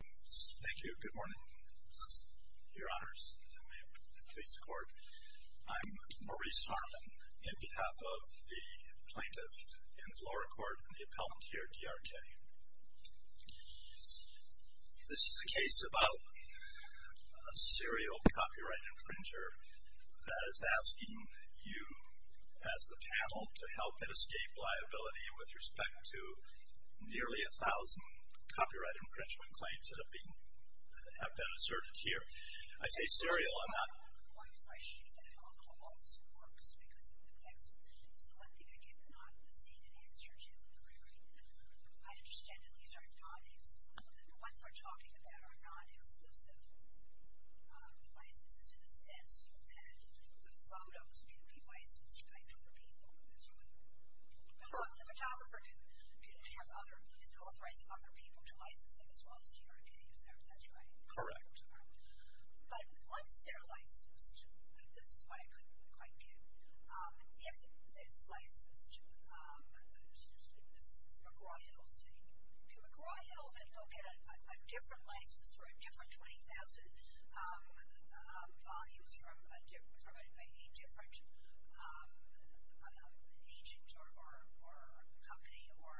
Thank you. Good morning, Your Honors, and may it please the Court. I'm Maurice Harmon, on behalf of the Plaintiff-in-Floor Accord and the Appellant here, DRK. This is a case about a serial copyright infringer that is asking you, as the panel, to help and escape liability with respect to nearly a thousand copyright infringement claims that have been asserted here. I say serial, I'm not... I appreciate that alcohol also works because it affects... It's the one thing I did not see an answer to in the record. I understand that these are non-exclusive... The ones they're talking about are non-exclusive licenses in the sense that the photos can be licensed by other people. That's right. The photographer can authorize other people to license them as well as DRK. Is that right? Correct. But once they're licensed... This is what I couldn't quite get. If it's licensed, this is McGraw-Hill saying, can McGraw-Hill then go get a different license for a different 20,000 volumes from a different agent or company? Or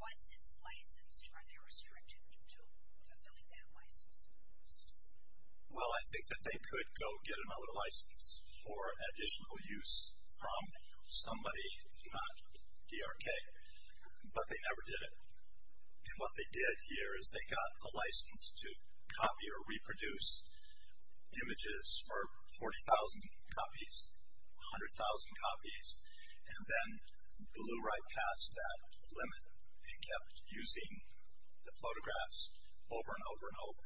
once it's licensed, are they restricted to fulfilling that license? Well, I think that they could go get another license for additional use from somebody, not DRK, but they never did it. And what they did here is they got a license to copy or reproduce images for 40,000 copies, 100,000 copies, and then blew right past that limit and kept using the photographs over and over and over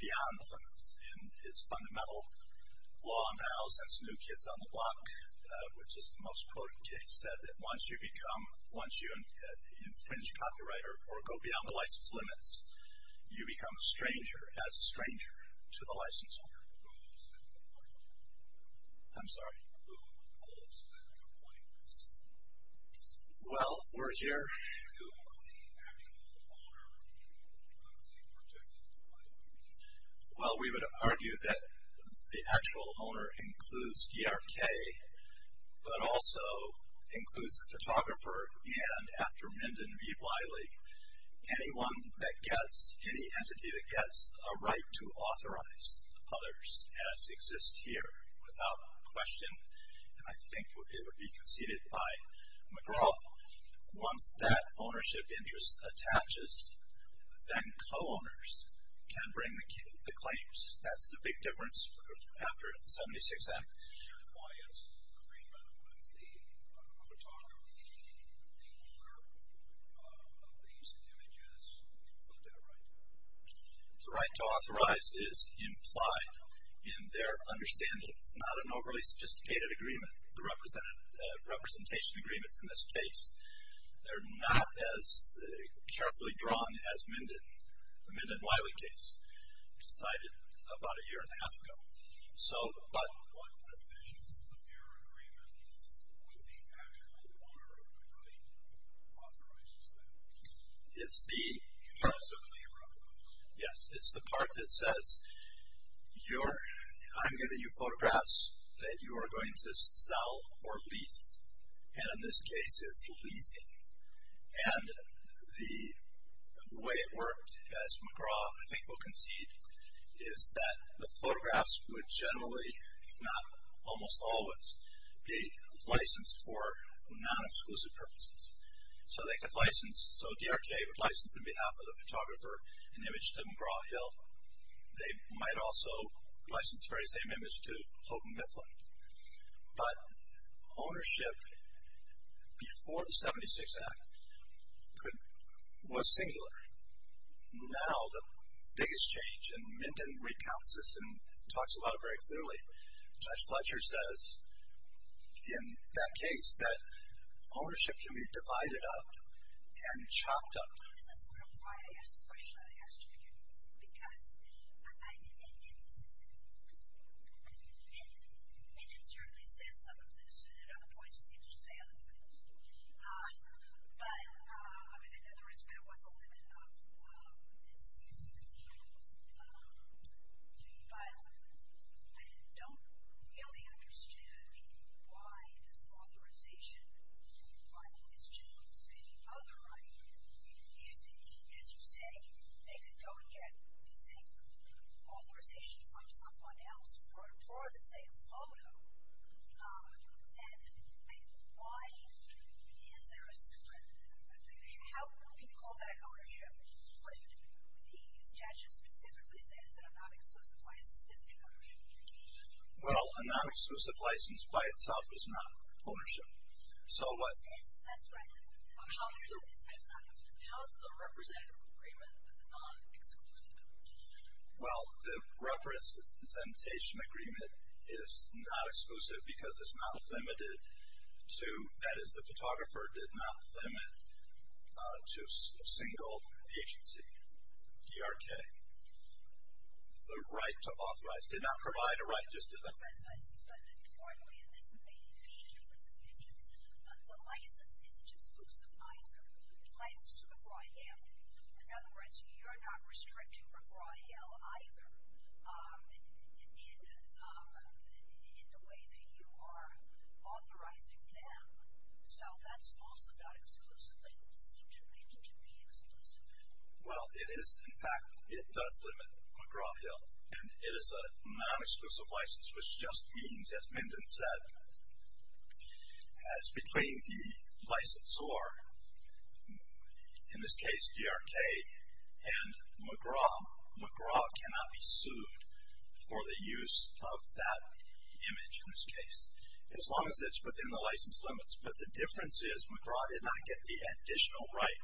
beyond the limits. And it's fundamental law now since New Kids on the Block, which is the most quoted case, said that once you become, once you infringe copyright or go beyond the license limits, you become a stranger, as a stranger, to the license holder. I'm sorry? Well, we're here. Well, we would argue that the actual owner includes DRK, but also includes the photographer and, after Menden V. Wiley, anyone that gets, any entity that gets a right to authorize others, as exists here without question, and I think it would be conceded by McGraw, once that ownership interest attaches, then co-owners can bring the claims. That's the big difference after the 76 Act. And why is agreement with the photographer, the owner of these images, include that right? The right to authorize is implied in their understanding. It's not an overly sophisticated agreement, the representation agreements in this case. They're not as carefully drawn as Menden, the Menden-Wiley case, decided about a year and a half ago. What definition of error agreement is with the actual owner of the right to authorize the status? It's the part that says, I'm giving you photographs that you are going to sell or lease, and in this case, it's leasing. And the way it worked, as McGraw, I think, will concede, is that the photographs would generally, if not almost always, be licensed for non-exclusive purposes. So they could license, so DRK would license on behalf of the photographer an image to McGraw Hill. They might also license the very same image to Houghton Mifflin. But ownership before the 76 Act was singular. Now the biggest change, and Menden recounts this and talks about it very clearly, Judge Fletcher says in that case that ownership can be divided up and chopped up. And that's sort of why I asked the question I asked you. Because Menden certainly says some of this, and at other points it seems to say other things. But in other words, what's the limit of this? But I don't really understand why this authorization by Ms. Jones to the other right, as you say, they could go and get, say, authorization from someone else for the same photo. And why is there a, how can you call that ownership? The statute specifically says that a non-exclusive license is not ownership. Well, a non-exclusive license by itself is not ownership. That's right. How is the representative agreement non-exclusive? Well, the representation agreement is not exclusive because it's not limited to, that is the photographer did not limit to a single agency, DRK. The right to authorize, did not provide a right just to them. But importantly, and this may be your opinion, the license isn't exclusive either. The license to McGraw-Hill, in other words, you're not restricting McGraw-Hill either in the way that you are authorizing them. So that's also not exclusive. It seemed to Menden to be exclusive. Well, it is. In fact, it does limit McGraw-Hill. And it is a non-exclusive license, which just means, as Menden said, as between the licensor, in this case DRK, and McGraw, McGraw cannot be sued for the use of that image in this case. As long as it's within the license limits. But the difference is McGraw did not get the additional right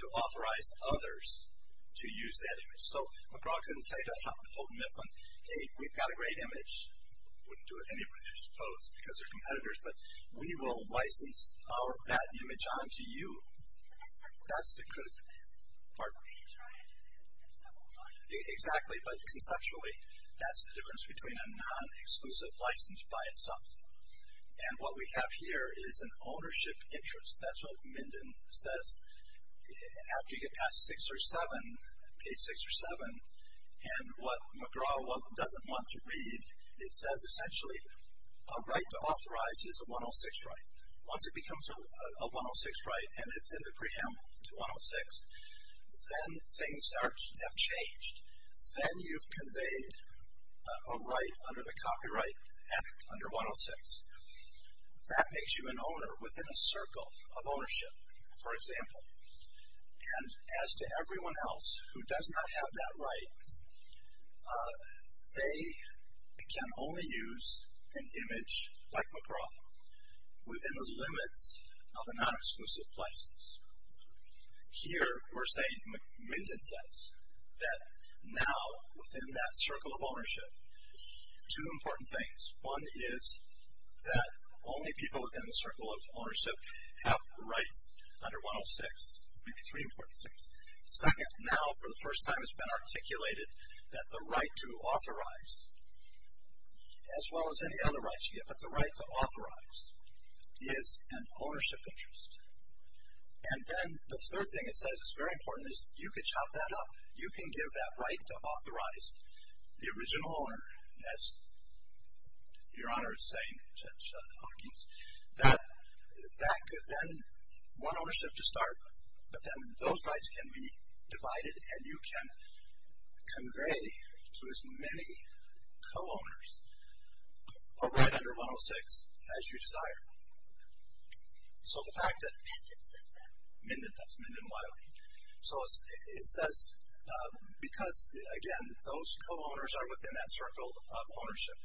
to authorize others to use that image. So McGraw couldn't say to Houghton Mifflin, hey, we've got a great image. Wouldn't do it anyway, I suppose, because they're competitors. But we will license our bad image onto you. That's the critical part. Exactly. But conceptually, that's the difference between a non-exclusive license by itself. And what we have here is an ownership interest. That's what Menden says. After you get past six or seven, page six or seven, and what McGraw doesn't want to read, it says essentially a right to authorize is a 106 right. Once it becomes a 106 right and it's in the preamble to 106, then things have changed. Then you've conveyed a right under the Copyright Act under 106. That makes you an owner within a circle of ownership, for example. And as to everyone else who does not have that right, they can only use an image like McGraw, within the limits of a non-exclusive license. Here we're saying, Menden says, that now within that circle of ownership, two important things. One is that only people within the circle of ownership have rights under 106. Maybe three important things. Second, now for the first time it's been articulated that the right to authorize, as well as any other rights you get, but the right to authorize is an ownership interest. And then the third thing it says that's very important is you could chop that up. You can give that right to authorize the original owner, as Your Honor is saying, Judge Hawkins, that could then, one ownership to start, but then those rights can be divided and you can convey to as many co-owners or right under 106 as you desire. So the fact that... Menden says that. Menden does, Menden Wiley. So it says, because again, those co-owners are within that circle of ownership,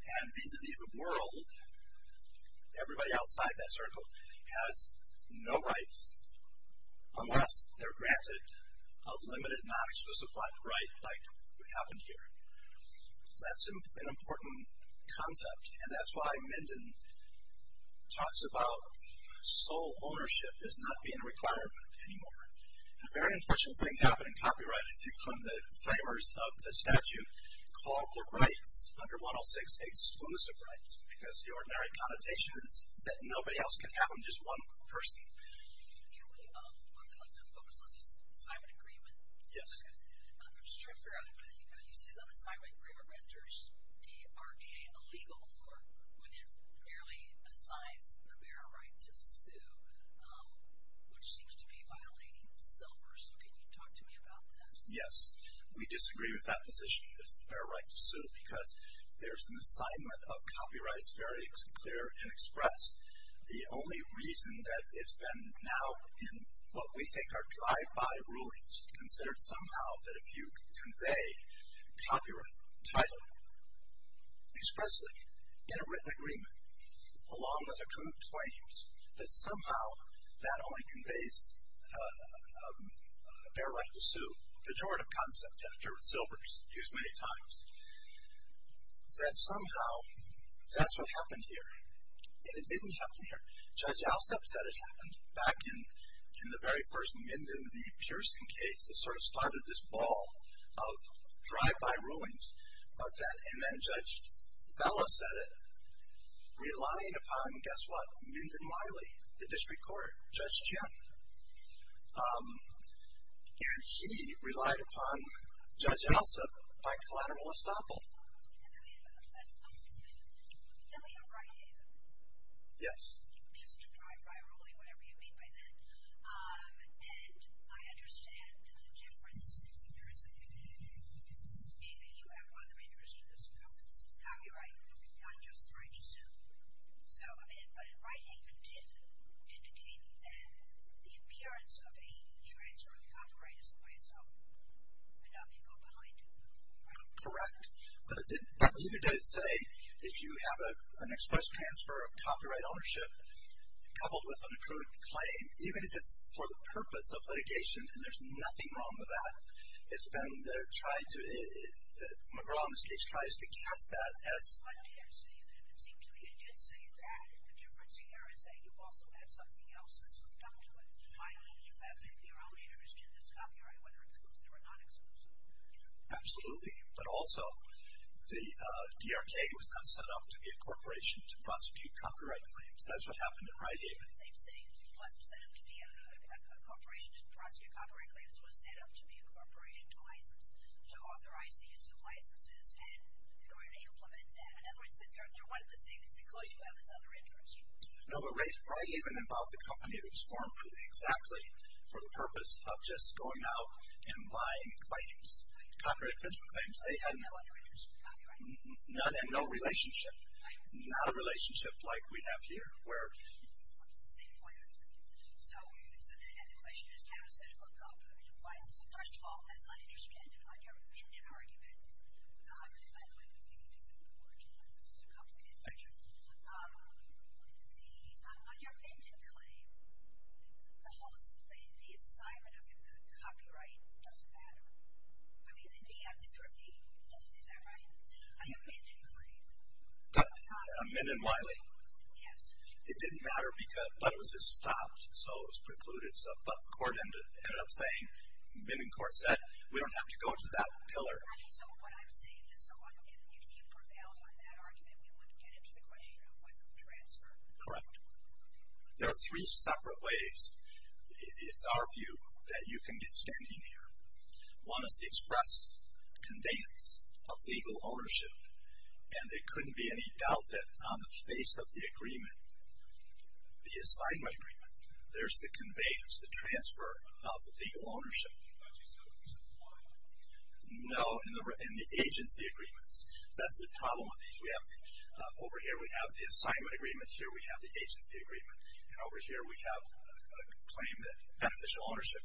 and vis-a-vis the world, everybody outside that circle has no rights, unless they're granted a limited non-exclusive right like what happened here. So that's an important concept, and that's why Menden talks about sole ownership as not being a requirement anymore. And a very important thing happened in copyright. It's become the framers of the statute called the rights under 106 exclusive rights, because the ordinary connotation is that nobody else can have them, just one person. Can we focus on this assignment agreement? Yes. I'm just trying to figure out, you say that the assignment agreement renders DRK illegal when it merely assigns the bearer right to sue, which seems to be violating silver. So can you talk to me about that? Yes. We disagree with that position, this bearer right to sue, because there's an assignment of copyrights very clear and expressed. The only reason that it's been now in what we think are drive-by rulings, considered somehow that if you convey copyright title expressly in a written agreement, along with a group of claims, that somehow that only conveys a bearer right to sue, pejorative concept after silvers used many times, that somehow that's what happened here. And it didn't happen here. Judge Alsep said it happened back in the very first Minden v. Pearson case that sort of started this ball of drive-by rulings. And then Judge Vela said it, relying upon, guess what, Minden Wiley, the district court, Judge Chen. And he relied upon Judge Alsep by collateral estoppel. Let me ask you a question. You have a right, haven't you? Yes. Just to drive by a ruling, whatever you mean by that. And I understand the difference in your opinion. You have other interests in this group, copyright, not just the right to sue. But in writing, you did indicate that the appearance of a transfer of the copyright is in way itself and nothing to go behind it, correct? Correct. But neither did it say if you have an exposed transfer of copyright ownership coupled with an accrued claim, even if it's for the purpose of litigation, and there's nothing wrong with that, it's been tried to, McGraw, in this case, tries to cast that as. I didn't say that. It seemed to me it did say that. The difference here is that you also have something else that's hooked up to it. Finally, you have your own interest in this copyright, whether it's exclusive or non-exclusive. Absolutely. But also, the DRK was not set up to be a corporation to prosecute copyright claims. That's what happened in Wright-Haven. It wasn't set up to be a corporation to prosecute copyright claims. It was set up to be a corporation to authorize the use of licenses in order to implement that. In other words, they're one and the same. It's because you have this other interest. No, but Wright-Haven involved a company that was formed exactly for the purpose of just going out and buying claims, copyright infringement claims. They had no other interest in copyright. None, and no relationship. Not a relationship like we have here, where. It's the same point. So, and the question is, how does that hook up in Wright-Haven? First of all, as an interest candidate, on your end of argument, I'm going to give you two more words. This is a complicated one. Thank you. On your Minden claim, the assignment of your good copyright doesn't matter. I mean, the DRK, is that right? On your Minden claim. Minden-Wiley. Yes. It didn't matter, but it was just stopped, so it was precluded. But the court ended up saying, Minden court said, we don't have to go to that pillar. So what I'm saying is, if you prevailed on that argument, we wouldn't get into the question of whether to transfer. Correct. There are three separate ways, it's our view, that you can get standing here. One is the express conveyance of legal ownership, and there couldn't be any doubt that on the face of the agreement, the assignment agreement, there's the conveyance, the transfer of legal ownership. No, in the agency agreements. That's the problem with these. Over here we have the assignment agreement. Here we have the agency agreement. And over here we have a claim that beneficial ownership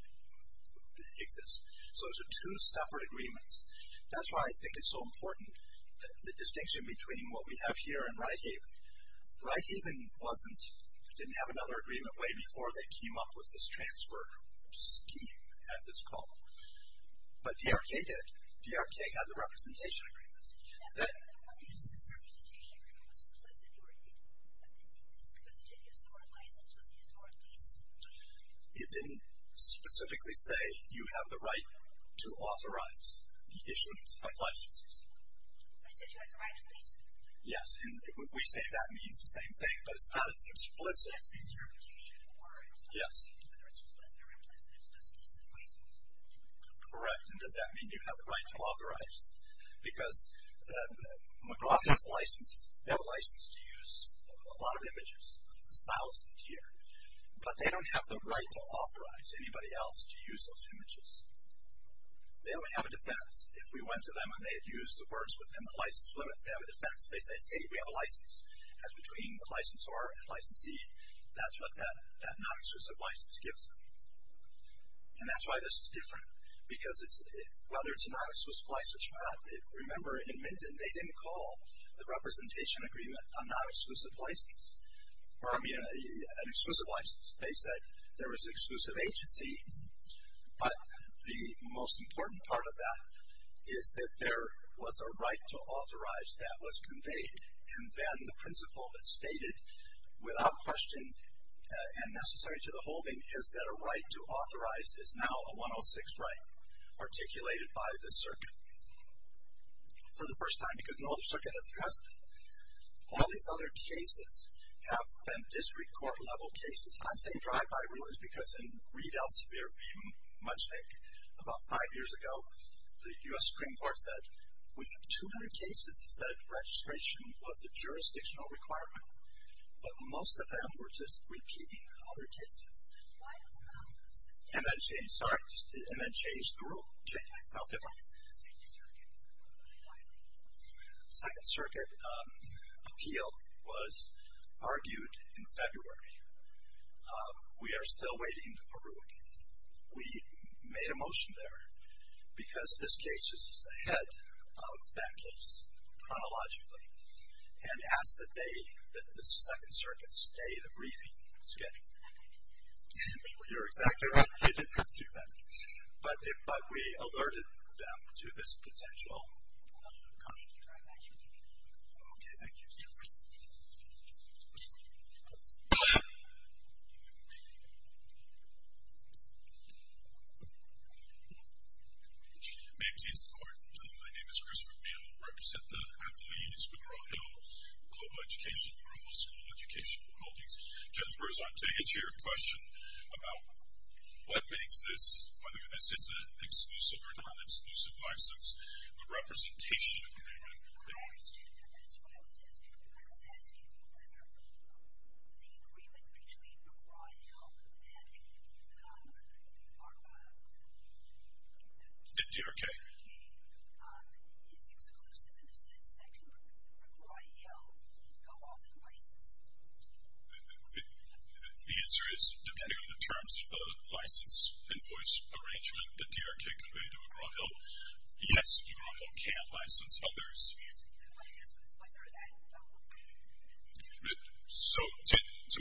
exists. So those are two separate agreements. That's why I think it's so important, the distinction between what we have here and Wright Haven. Wright Haven didn't have another agreement way before they came up with this transfer scheme, as it's called. But DRK did. DRK had the representation agreement. That... The representation agreement was presented to Wright Haven, because it didn't use the word license, it used the word lease. It didn't specifically say you have the right to authorize the issuance of licenses. But it said you have the right to lease. Yes, and we say that means the same thing, but it's not as explicit. Yes. Correct. And does that mean you have the right to authorize? Because McGraw has a license. They have a license to use a lot of images, a thousand here. But they don't have the right to authorize anybody else to use those images. They only have a defense. If we went to them and they had used the words within the license limits, they have a defense. They say, hey, we have a license. As between the licensor and licensee, that's what that non-exclusive license gives them. And that's why this is different. Because whether it's a non-exclusive license or not, remember in Minden they didn't call the representation agreement a non-exclusive license. Or, I mean, an exclusive license. They said there was exclusive agency. But the most important part of that is that there was a right to authorize that was conveyed. And then the principle that's stated, without question and necessary to the holding, is that a right to authorize is now a 106 right articulated by the circuit. For the first time, because no other circuit has addressed it, all these other cases have been district court level cases. I'm saying drive-by rulings because in Reed Elsevier v. Mutchnick about five years ago, the U.S. Supreme Court said we have 200 cases that said registration was a jurisdictional requirement. But most of them were just repeating other cases. And that changed the rule. It felt different. Second Circuit appeal was argued in February. We are still waiting for ruling. We made a motion there because this case is ahead of that case chronologically, and asked that the Second Circuit stay the briefing schedule. You're exactly right. They didn't have to do that. But we alerted them to this potential conflict. Okay, thank you. Ma'am, please. My name is Christopher Beal. I represent the employees with Royal Hill Global Education Group, a school education holding. Jennifer is on today to answer your question about what makes this, whether this is an exclusive or non-exclusive license, the representation of a human being. I understand that. That's what I was asking. I was asking whether the agreement between Royal and DRK is exclusive in the sense that Royal go off and license people. The answer is, depending on the terms of the license invoice arrangement that DRK conveyed to Royal, yes, Royal can license others. So to give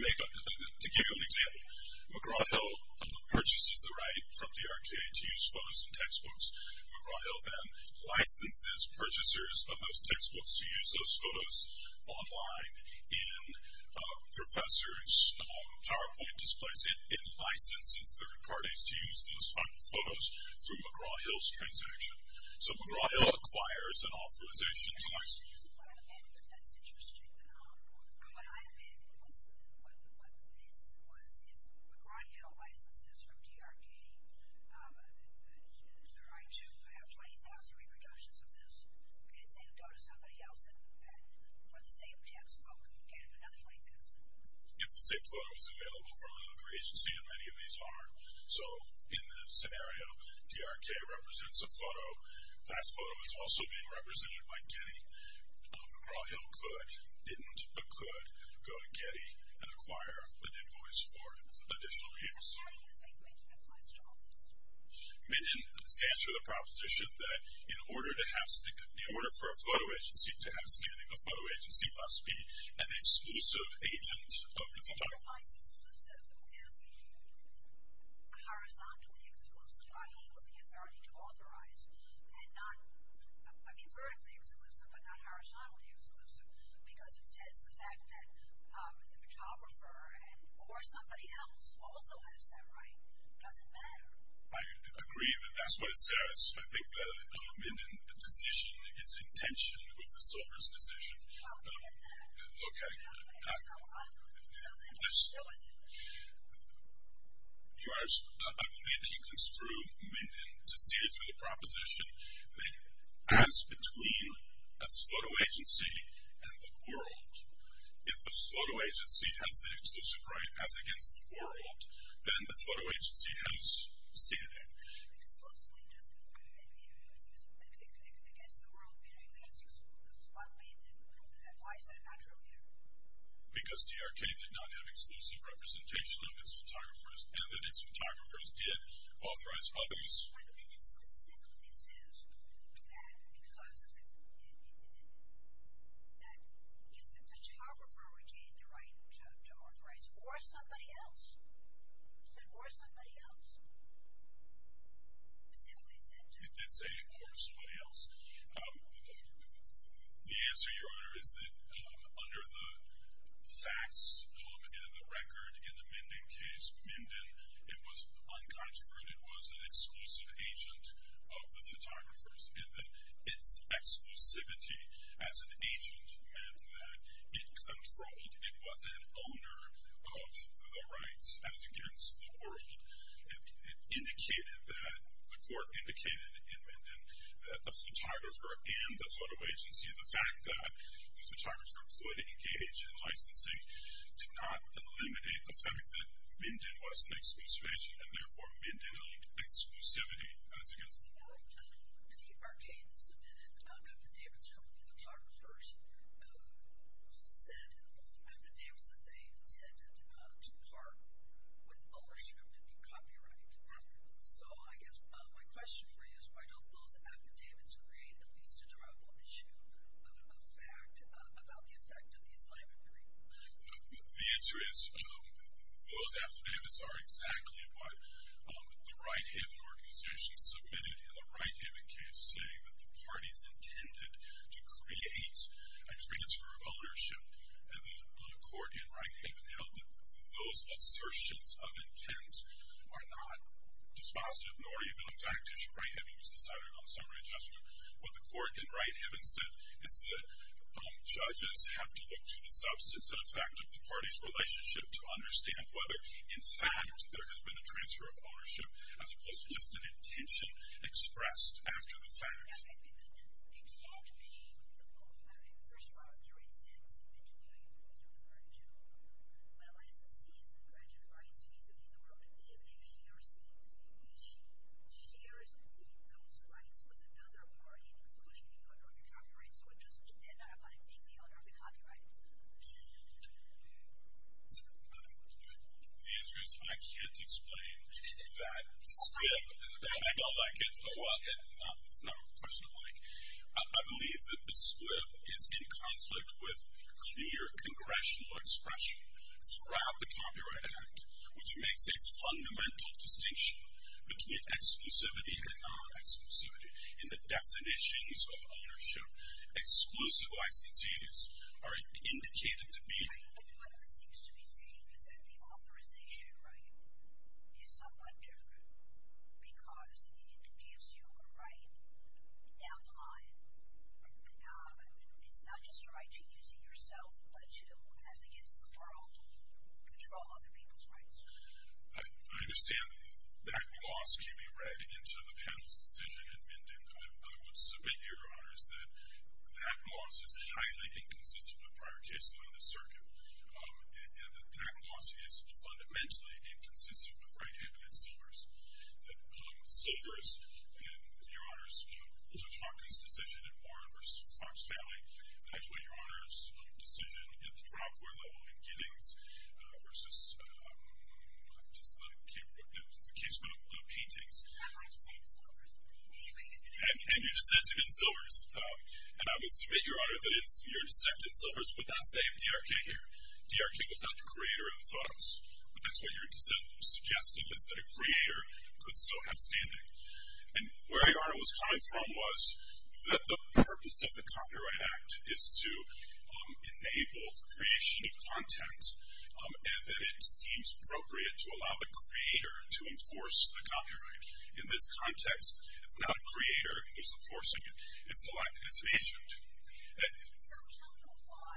you an example, McGraw-Hill purchases the right from DRK to use photos in textbooks. McGraw-Hill then licenses purchasers of those textbooks to use those photos online. And professors' PowerPoint displays it and licenses third parties to use those final photos through McGraw-Hill's transaction. So McGraw-Hill acquires an authorization to license. That's interesting. What I meant was if McGraw-Hill licenses from DRK to have 20,000 reproductions of this, could it then go to somebody else and for the same textbook get another 20,000? If the same photo is available from another agency, and many of these are. So in this scenario, DRK represents a photo. That photo is also being represented by Getty. McGraw-Hill could, didn't, but could, go to Getty and acquire an invoice for additional people. How do you think that applies to office? It stands for the proposition that in order for a photo agency to have standing, a photo agency must be an exclusive agent of the photographer. It certifies exclusive as being horizontally exclusive. I mean with the authority to authorize. And not, I mean vertically exclusive, but not horizontally exclusive. Because it says the fact that the photographer or somebody else also has that right doesn't matter. I agree that that's what it says. I think the Minden decision is in tension with the Sulphur's decision. Okay. I believe that you construe Minden to stand for the proposition that as between a photo agency and the world. If the photo agency has the exclusive right as against the world, then the photo agency has standing. Exclusively against the world, meaning that it's exclusive. Why is that not true here? Because TRK did not have exclusive representation of its photographers and that its photographers did authorize others. But Minden specifically says that because of the, that the photographer regained the right to authorize or somebody else. It said or somebody else. It did say or somebody else. The answer, Your Honor, is that under the facts in the record in the Minden case, Minden, it was uncontroverted, was an exclusive agent of the photographers. And that its exclusivity as an agent meant that it controlled, it was an owner of the rights as against the world. It indicated that, the court indicated in Minden, that the photographer and the photo agency, the fact that the photographer could engage in licensing, did not eliminate the fact that Minden was an exclusivization and therefore Minden elite exclusivity as against the world. The TRK submitted affidavits from the photographers, said affidavits that they intended to part with ownership and be copyrighted afterwards. So I guess my question for you is, why don't those affidavits create at least a triable issue of fact about the effect of the assignment agreement? The answer is, those affidavits are exactly what the Wright-Hibbon organization submitted in the Wright-Hibbon case saying that the parties intended to create a transfer of ownership on a court in Wright-Hibbon held that those assertions of intent are not dispositive nor even a fact issue. Wright-Hibbon was deciding on a summary adjustment. What the court in Wright-Hibbon said is that judges have to look to the substance and effect of the party's relationship to understand whether in fact there has been a transfer of ownership as opposed to just an intention expressed after the fact. The answer is, I can't explain that script. I don't like it. It's not what the question is like. I believe that the script is in conflict with clear congressional expression throughout the Copyright Act, which makes a fundamental distinction between exclusivity and non-exclusivity. In the definitions of ownership, exclusive licenses are indicated to be I think what this seems to be saying is that the authorization right is somewhat different because it gives you a right down the line. It's not just a right to use it yourself, but to, as against the world, control other people's rights. I understand that that loss can be read into the panel's decision in Minden. I would submit, Your Honors, that that loss is highly inconsistent with prior cases on this circuit, and that that loss is fundamentally inconsistent with right-handed silvers. Silvers in, Your Honors, Judge Hawkins' decision in Warren v. Fox Valley, and actually Your Honors' decision at the dropware level in Giddings v. the case about paintings. And you dissented in silvers, and I would submit, Your Honor, that your dissent in silvers would not save DRK here. DRK was not the creator of the photos, but that's what your dissent was suggesting, was that a creator could still have standing. And where Your Honor was coming from was that the purpose of the Copyright Act is to enable creation of content, and that it seems appropriate to allow the creator to enforce the copyright. In this context, it's not a creator who's enforcing it, it's an agent. So I'm telling you why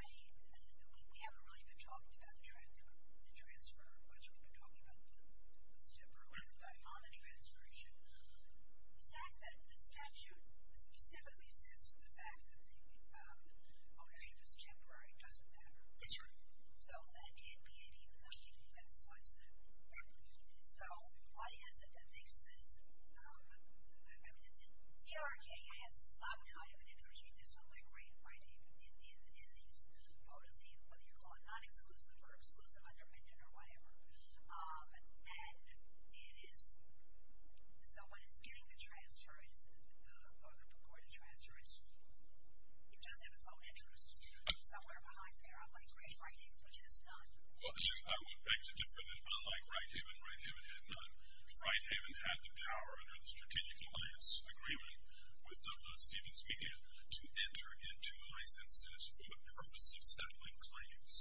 we haven't really been talking about the transfer much. We've been talking about the post-temporary on the transfer issue. The statute specifically says that the ownership is temporary. It doesn't matter. So that can't be any more. You can't emphasize that. So why is it that makes this? DRK has some kind of an interest in this copyright in these photos, whether you call it non-exclusive or exclusive, undependent, or whatever. And so when it's getting the transfer, or the purported transfer, it does have its own interest somewhere behind there, unlike Great Havens, which has none. Well, I would beg to differ this, but unlike Great Haven, Great Haven had none. Great Haven had the power under the strategic alliance agreement with Douglas Stevens Media to enter into licenses for the purpose of settling claims.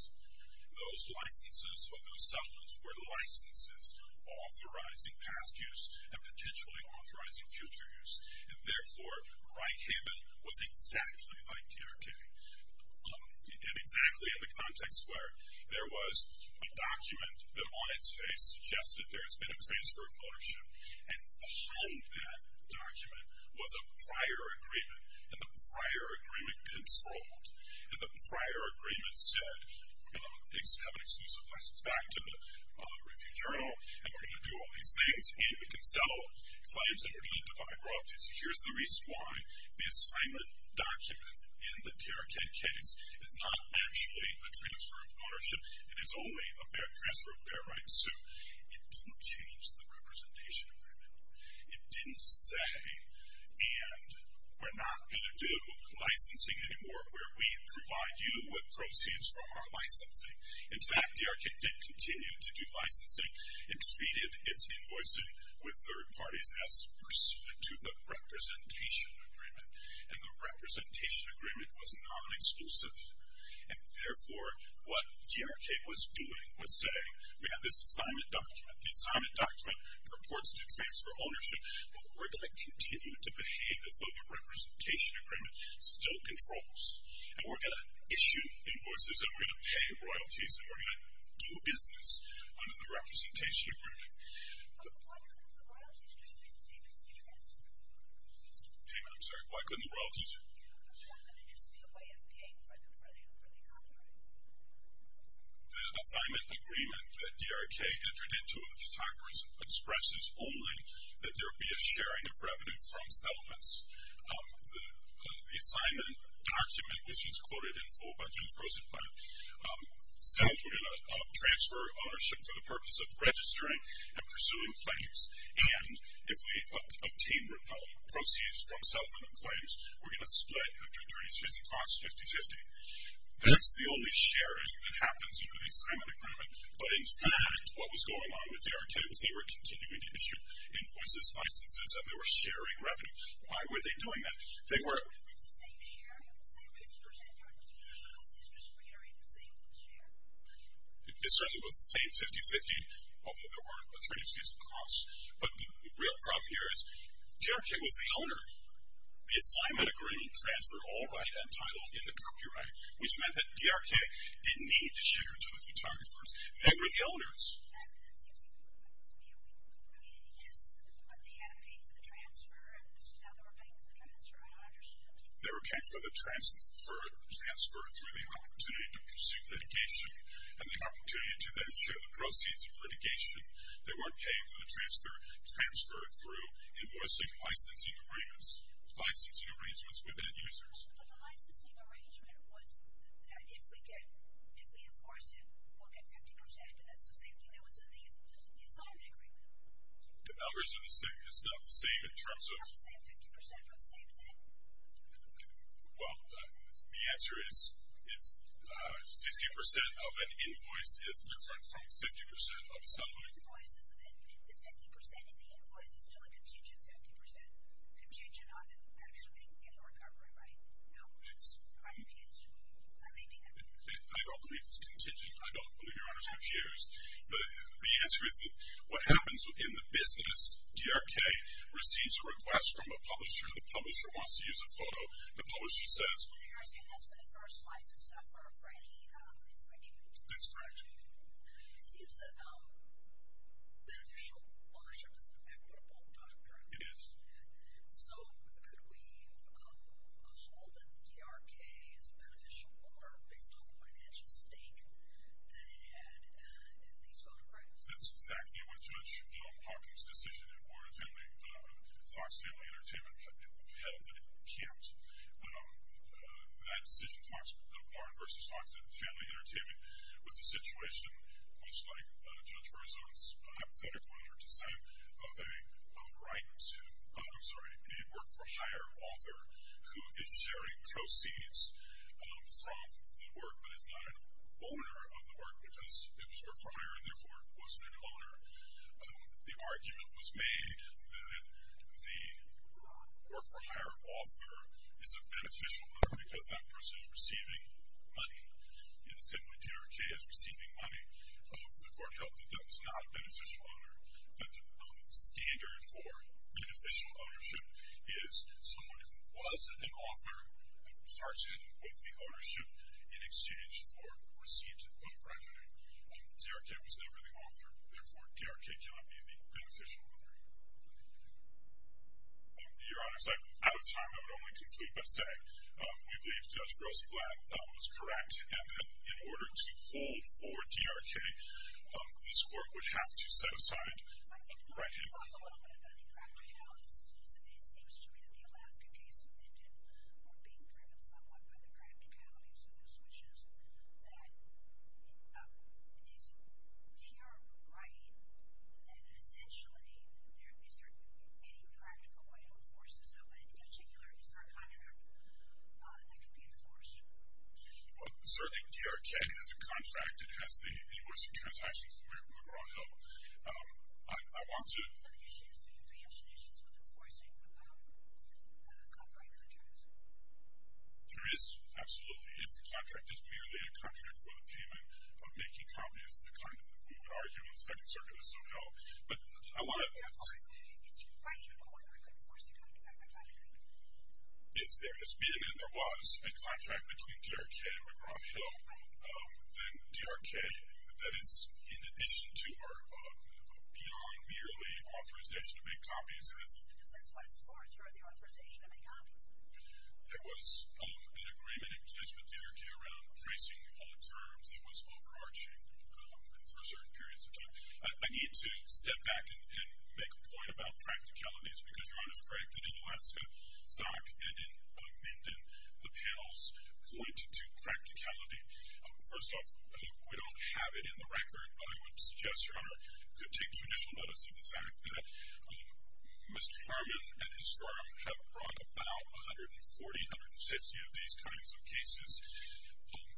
Those licenses or those settlements were licenses authorizing past use and potentially authorizing future use. And, therefore, Right Haven was exactly like DRK, and exactly in the context where there was a document that on its face suggested that there has been a transfer of ownership, and behind that document was a prior agreement. And the prior agreement controlled, and the prior agreement said, we're going to have an exclusive license back to the Review Journal, and we're going to do all these things, and we can sell claims, and we're going to divide royalties. Here's the reason why. It didn't change the representation agreement. It didn't say, and we're not going to do licensing anymore where we provide you with proceeds from our licensing. In fact, DRK did continue to do licensing. It exceeded its invoicing with third parties as pursuant to the representation agreement, and the representation agreement was non-exclusive. And, therefore, what DRK was doing was saying, we have this assignment document. The assignment document purports to transfer ownership, but we're going to continue to behave as though the representation agreement still controls, and we're going to issue invoices, and we're going to pay royalties, and we're going to do business under the representation agreement. David, I'm sorry, why couldn't the royalties? The assignment agreement that DRK entered into with the photographers expresses only that there be a sharing of revenue from settlements. The assignment document, which is quoted in full by James Rosenblatt, says we're going to transfer ownership for the purpose of registering and pursuing claims, and if we obtain proceeds from settlement of claims, we're going to split after 30 days and cost 50-50. That's the only sharing that happens under the assignment agreement, but in fact, what was going on with DRK was they were continuing to issue invoices, licenses, and they were sharing revenue. Why were they doing that? I think we're... It certainly was the same 50-50, although there were a 30-60 cost, but the real problem here is DRK was the owner. The assignment agreement transferred all right and title in the copyright, which meant that DRK didn't need to share to the photographers. They were the owners. They were paying for the transfer through the opportunity to pursue litigation and the opportunity to then share the proceeds of litigation. They were paying for the transfer through invoicing licensing agreements with end users. The licensing arrangement was that if we enforce it, we'll get 50%, and that's the same thing that was in the assignment agreement. The numbers are the same. It's not the same in terms of... It's not the same 50% for the same thing? Well, the answer is 50% of an invoice is different from 50% of a settlement. The 50% in the invoice is still a contingent 50% contingent on the actual I don't believe it's contingent. I don't believe your Honor's confused. The answer is that what happens in the business, DRK receives a request from a publisher. The publisher wants to use a photo. The publisher says... DRK has for the first license, not for any infringement. That's correct. It seems that...... that DRK is beneficial more based on the financial stake that it had in these photographs. That's exactly what Judge Hawkins' decision in Warren's family, Fox Family Entertainment, held that it can't. That decision, Warren v. Fox Family Entertainment, was a situation which, like Judge Berzon's hypothetic 100%, they write to a work-for-hire author who is sharing proceeds from the work but is not an owner of the work because it was work-for-hire and therefore it wasn't an owner. The argument was made that the work-for-hire author is a beneficial owner because that person is receiving money. In the same way DRK is receiving money, the court held that that was not a beneficial owner, that the standard for beneficial ownership is someone who was an author and parts in with the ownership in exchange for receipts of revenue. DRK was never the author. Therefore, DRK cannot be the beneficial owner. Your Honors, out of time, I would only conclude by saying we believe Judge Rosenblatt was correct and that in order to hold for DRK, this court would have to set aside right-hand people. Can you talk a little bit about the practicalities? It seems to me that the Alaska case ended or being driven somewhat by the practicalities of this, which is that if you're right, then essentially is there any practical way to enforce this? In particular, is there a contract that could be enforced? Well, certainly DRK has a contract. It has the invoice of transactions that we're on now. I want to— Are there issues in enforcing copyright contracts? There is, absolutely. If the contract is merely a contract for the payment of making copies, the kind that we would argue in the Second Circuit is so-called. But I want to— Therefore, is there a way in order to enforce the copyright contract? If there has been and there was a contract between DRK and McGraw-Hill, then DRK, that is in addition to or beyond merely authorization to make copies— In a sense, what is forced are the authorization to make copies. There was an agreement in presence with DRK around tracing all terms. It was overarching for certain periods of time. I need to step back and make a point about practicalities because Your Honor is correct that in Alaska, Stock and in Minden, the panels point to practicality. First off, we don't have it in the record, but I would suggest, Your Honor, you could take traditional notice of the fact that Mr. Harmon and his firm have brought about 140, 150 of these kinds of cases.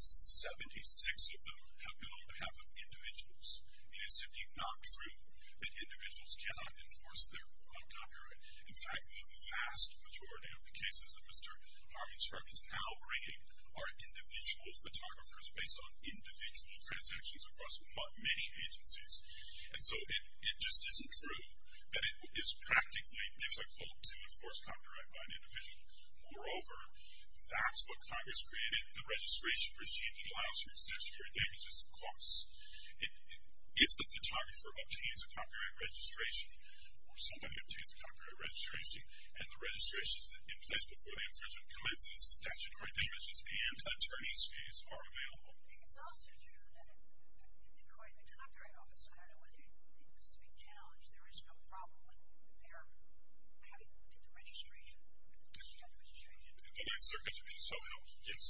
Seventy-six of them have been on behalf of individuals. It is simply not true that individuals cannot enforce their copyright. In fact, the vast majority of the cases that Mr. Harmon's firm is now bringing are individual photographers based on individual transactions across many agencies. And so it just isn't true that it is practically difficult to enforce copyright by an individual. Moreover, that's what Congress created. The registration regime that allows for excessive damages costs. If the photographer obtains a copyright registration or somebody obtains a copyright registration and the registration is in place before the infringement commences, statutory damages and attorney's fees are available. I think it's also true that according to the Copyright Office, I don't know whether you would speak challenge, there is no problem with their having to get the registration, to get the registration. The Ninth Circuit should be so helped, yes.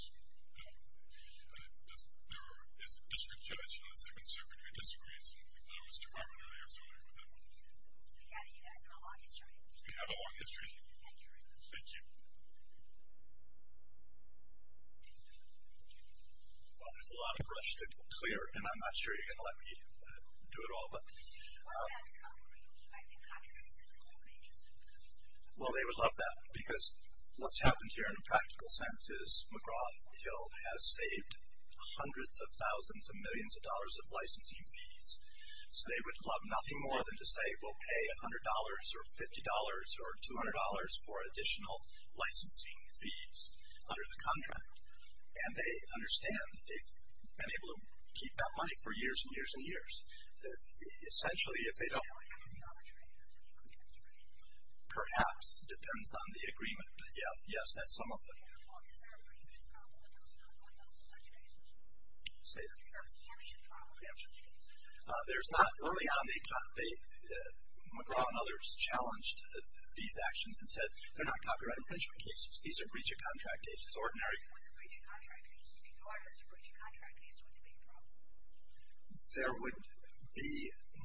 There is a district judge in the Second Circuit who disagrees, and I was to Harmon earlier, so I'll leave it at that. We have a long history. We have a long history. Thank you very much. Thank you. Well, there's a lot of brush to clear, and I'm not sure you're going to let me do it all, but... Well, they would love that, because what's happened here in a practical sense is McGraw-Hill has saved hundreds of thousands of millions of dollars of licensing fees. So they would love nothing more than to say, we'll pay $100 or $50 or $200 for additional licensing fees under the contract. And they understand that they've been able to keep that money for years and years and years. Essentially, if they don't... Perhaps depends on the agreement, but yes, that's some of it. Say that again. There's not... Early on, McGraw and others challenged these actions and said, they're not copyright infringement cases. These are breach of contract cases. Ordinary... There would be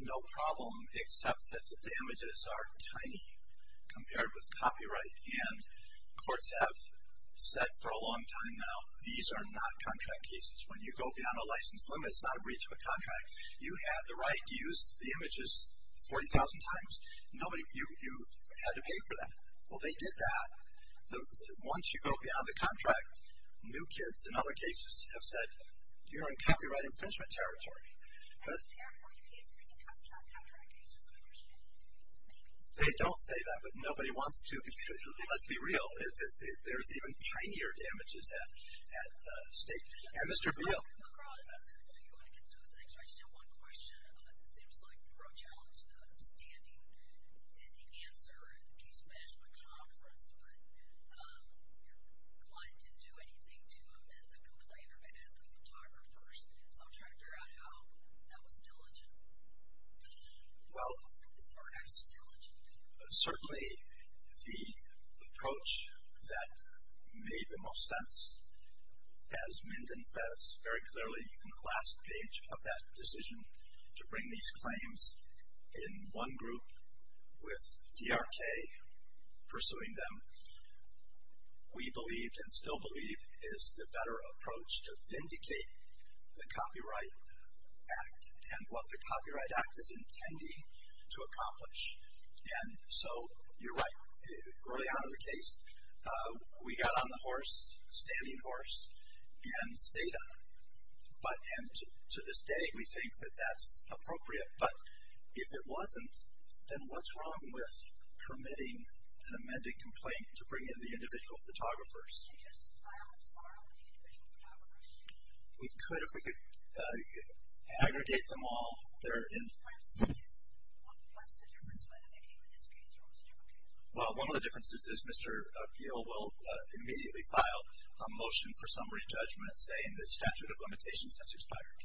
no problem, except that the damages are tiny compared with copyright, and courts have said for a long time now, these are not contract cases. When you go beyond a license limit, it's not a breach of a contract. You have the right to use the images 40,000 times. You had to pay for that. Well, they did that. Once you go beyond the contract, new kids in other cases have said, you're in copyright infringement territory. And therefore, you can't bring in contract cases under state law. Maybe. They don't say that, but nobody wants to. Let's be real. There's even tinier damages at stake. And Mr. Beal. McGraw, you want to get to the next question? I just have one question. It seems like Rochelle is not standing in the answer at the case management conference, but your client didn't do anything to amend the complaint or to add the photographer. So I'm trying to figure out how that was diligent. Well, certainly the approach that made the most sense, as Minden says very clearly in the last page of that decision to bring these claims in one group with DRK pursuing them, we believed and still believe is the better approach to vindicate the Copyright Act and what the Copyright Act is intending to accomplish. And so you're right. Early on in the case, we got on the horse, standing horse, and stayed on it. And to this day, we think that that's appropriate. But if it wasn't, then what's wrong with permitting an amended complaint to bring in the individual photographers? We could, if we could aggregate them all. Well, one of the differences is Mr. Beal will immediately file a motion for summary judgment, saying the statute of limitations has expired.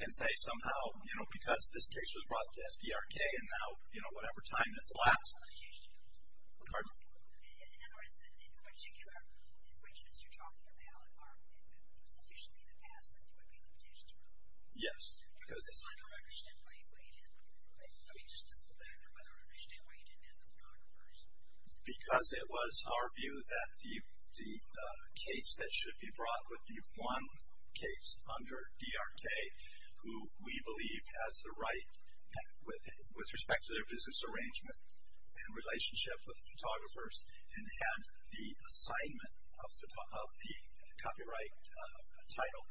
And say somehow, you know, because this case was brought to SDRK and now, you know, whatever time has elapsed. Pardon? In other words, the particular infringements you're talking about are sufficiently in the past that there would be limitations. Yes. I don't understand why you didn't. I mean, just as a matter of whether I understand why you didn't add the photographers. Because it was our view that the case that should be brought would be one case under DRK, who we believe has the right, with respect to their business arrangement and relationship with photographers, and had the assignment of the copyright title.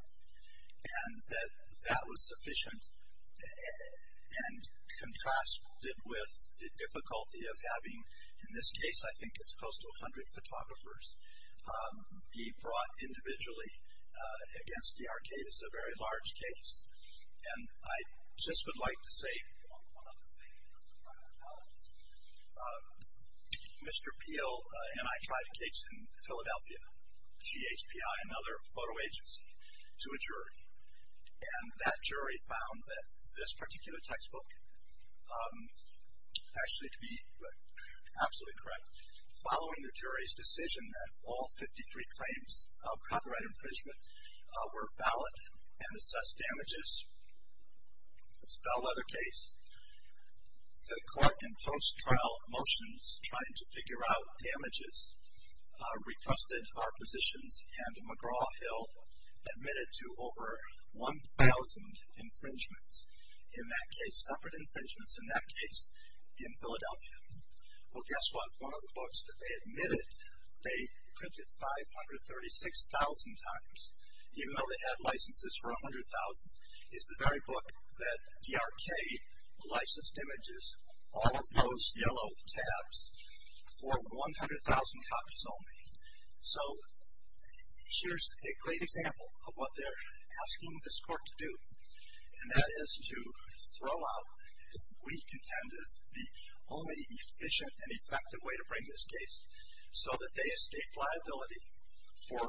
And that that was sufficient and contrasted with the difficulty of having, in this case, I think it's close to 100 photographers, be brought individually against DRK. It's a very large case. And I just would like to say one other thing. Mr. Beal and I tried a case in Philadelphia, GHPI, another photo agency. To a jury. And that jury found that this particular textbook, actually to be absolutely correct, following the jury's decision that all 53 claims of copyright infringement were valid and assessed damages, a spell leather case, the court in post-trial motions trying to figure out damages, requested our positions and McGraw-Hill admitted to over 1,000 infringements. In that case, separate infringements. In that case, in Philadelphia. Well, guess what? One of the books that they admitted, they printed 536,000 times. Even though they had licenses for 100,000, it's the very book that DRK licensed images, all of those yellow tabs, for 100,000 copies only. So here's a great example of what they're asking this court to do. And that is to throw out what we contend is the only efficient and effective way to bring this case so that they escape liability for.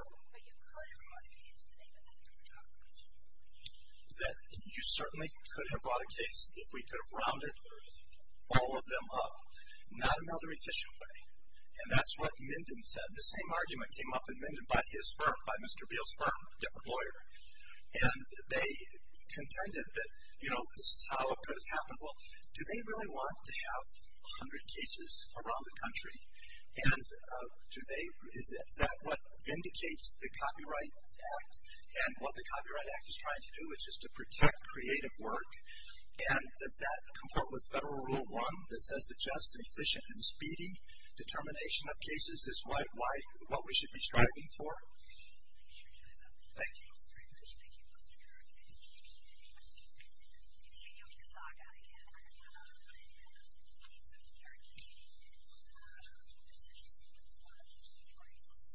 That you certainly could have brought a case if we could have rounded all of them up. Not another efficient way. And that's what Minden said. The same argument came up in Minden by his firm, by Mr. Beale's firm, a different lawyer. And they contended that, you know, this is how it could have happened. Well, do they really want to have 100 cases around the country? And do they, is that what indicates the Copyright Act? And what the Copyright Act is trying to do is just to protect creative work. And does that comport with Federal Rule 1 that says that just efficient and speedy determination of cases is what we should be striving for? Thank you.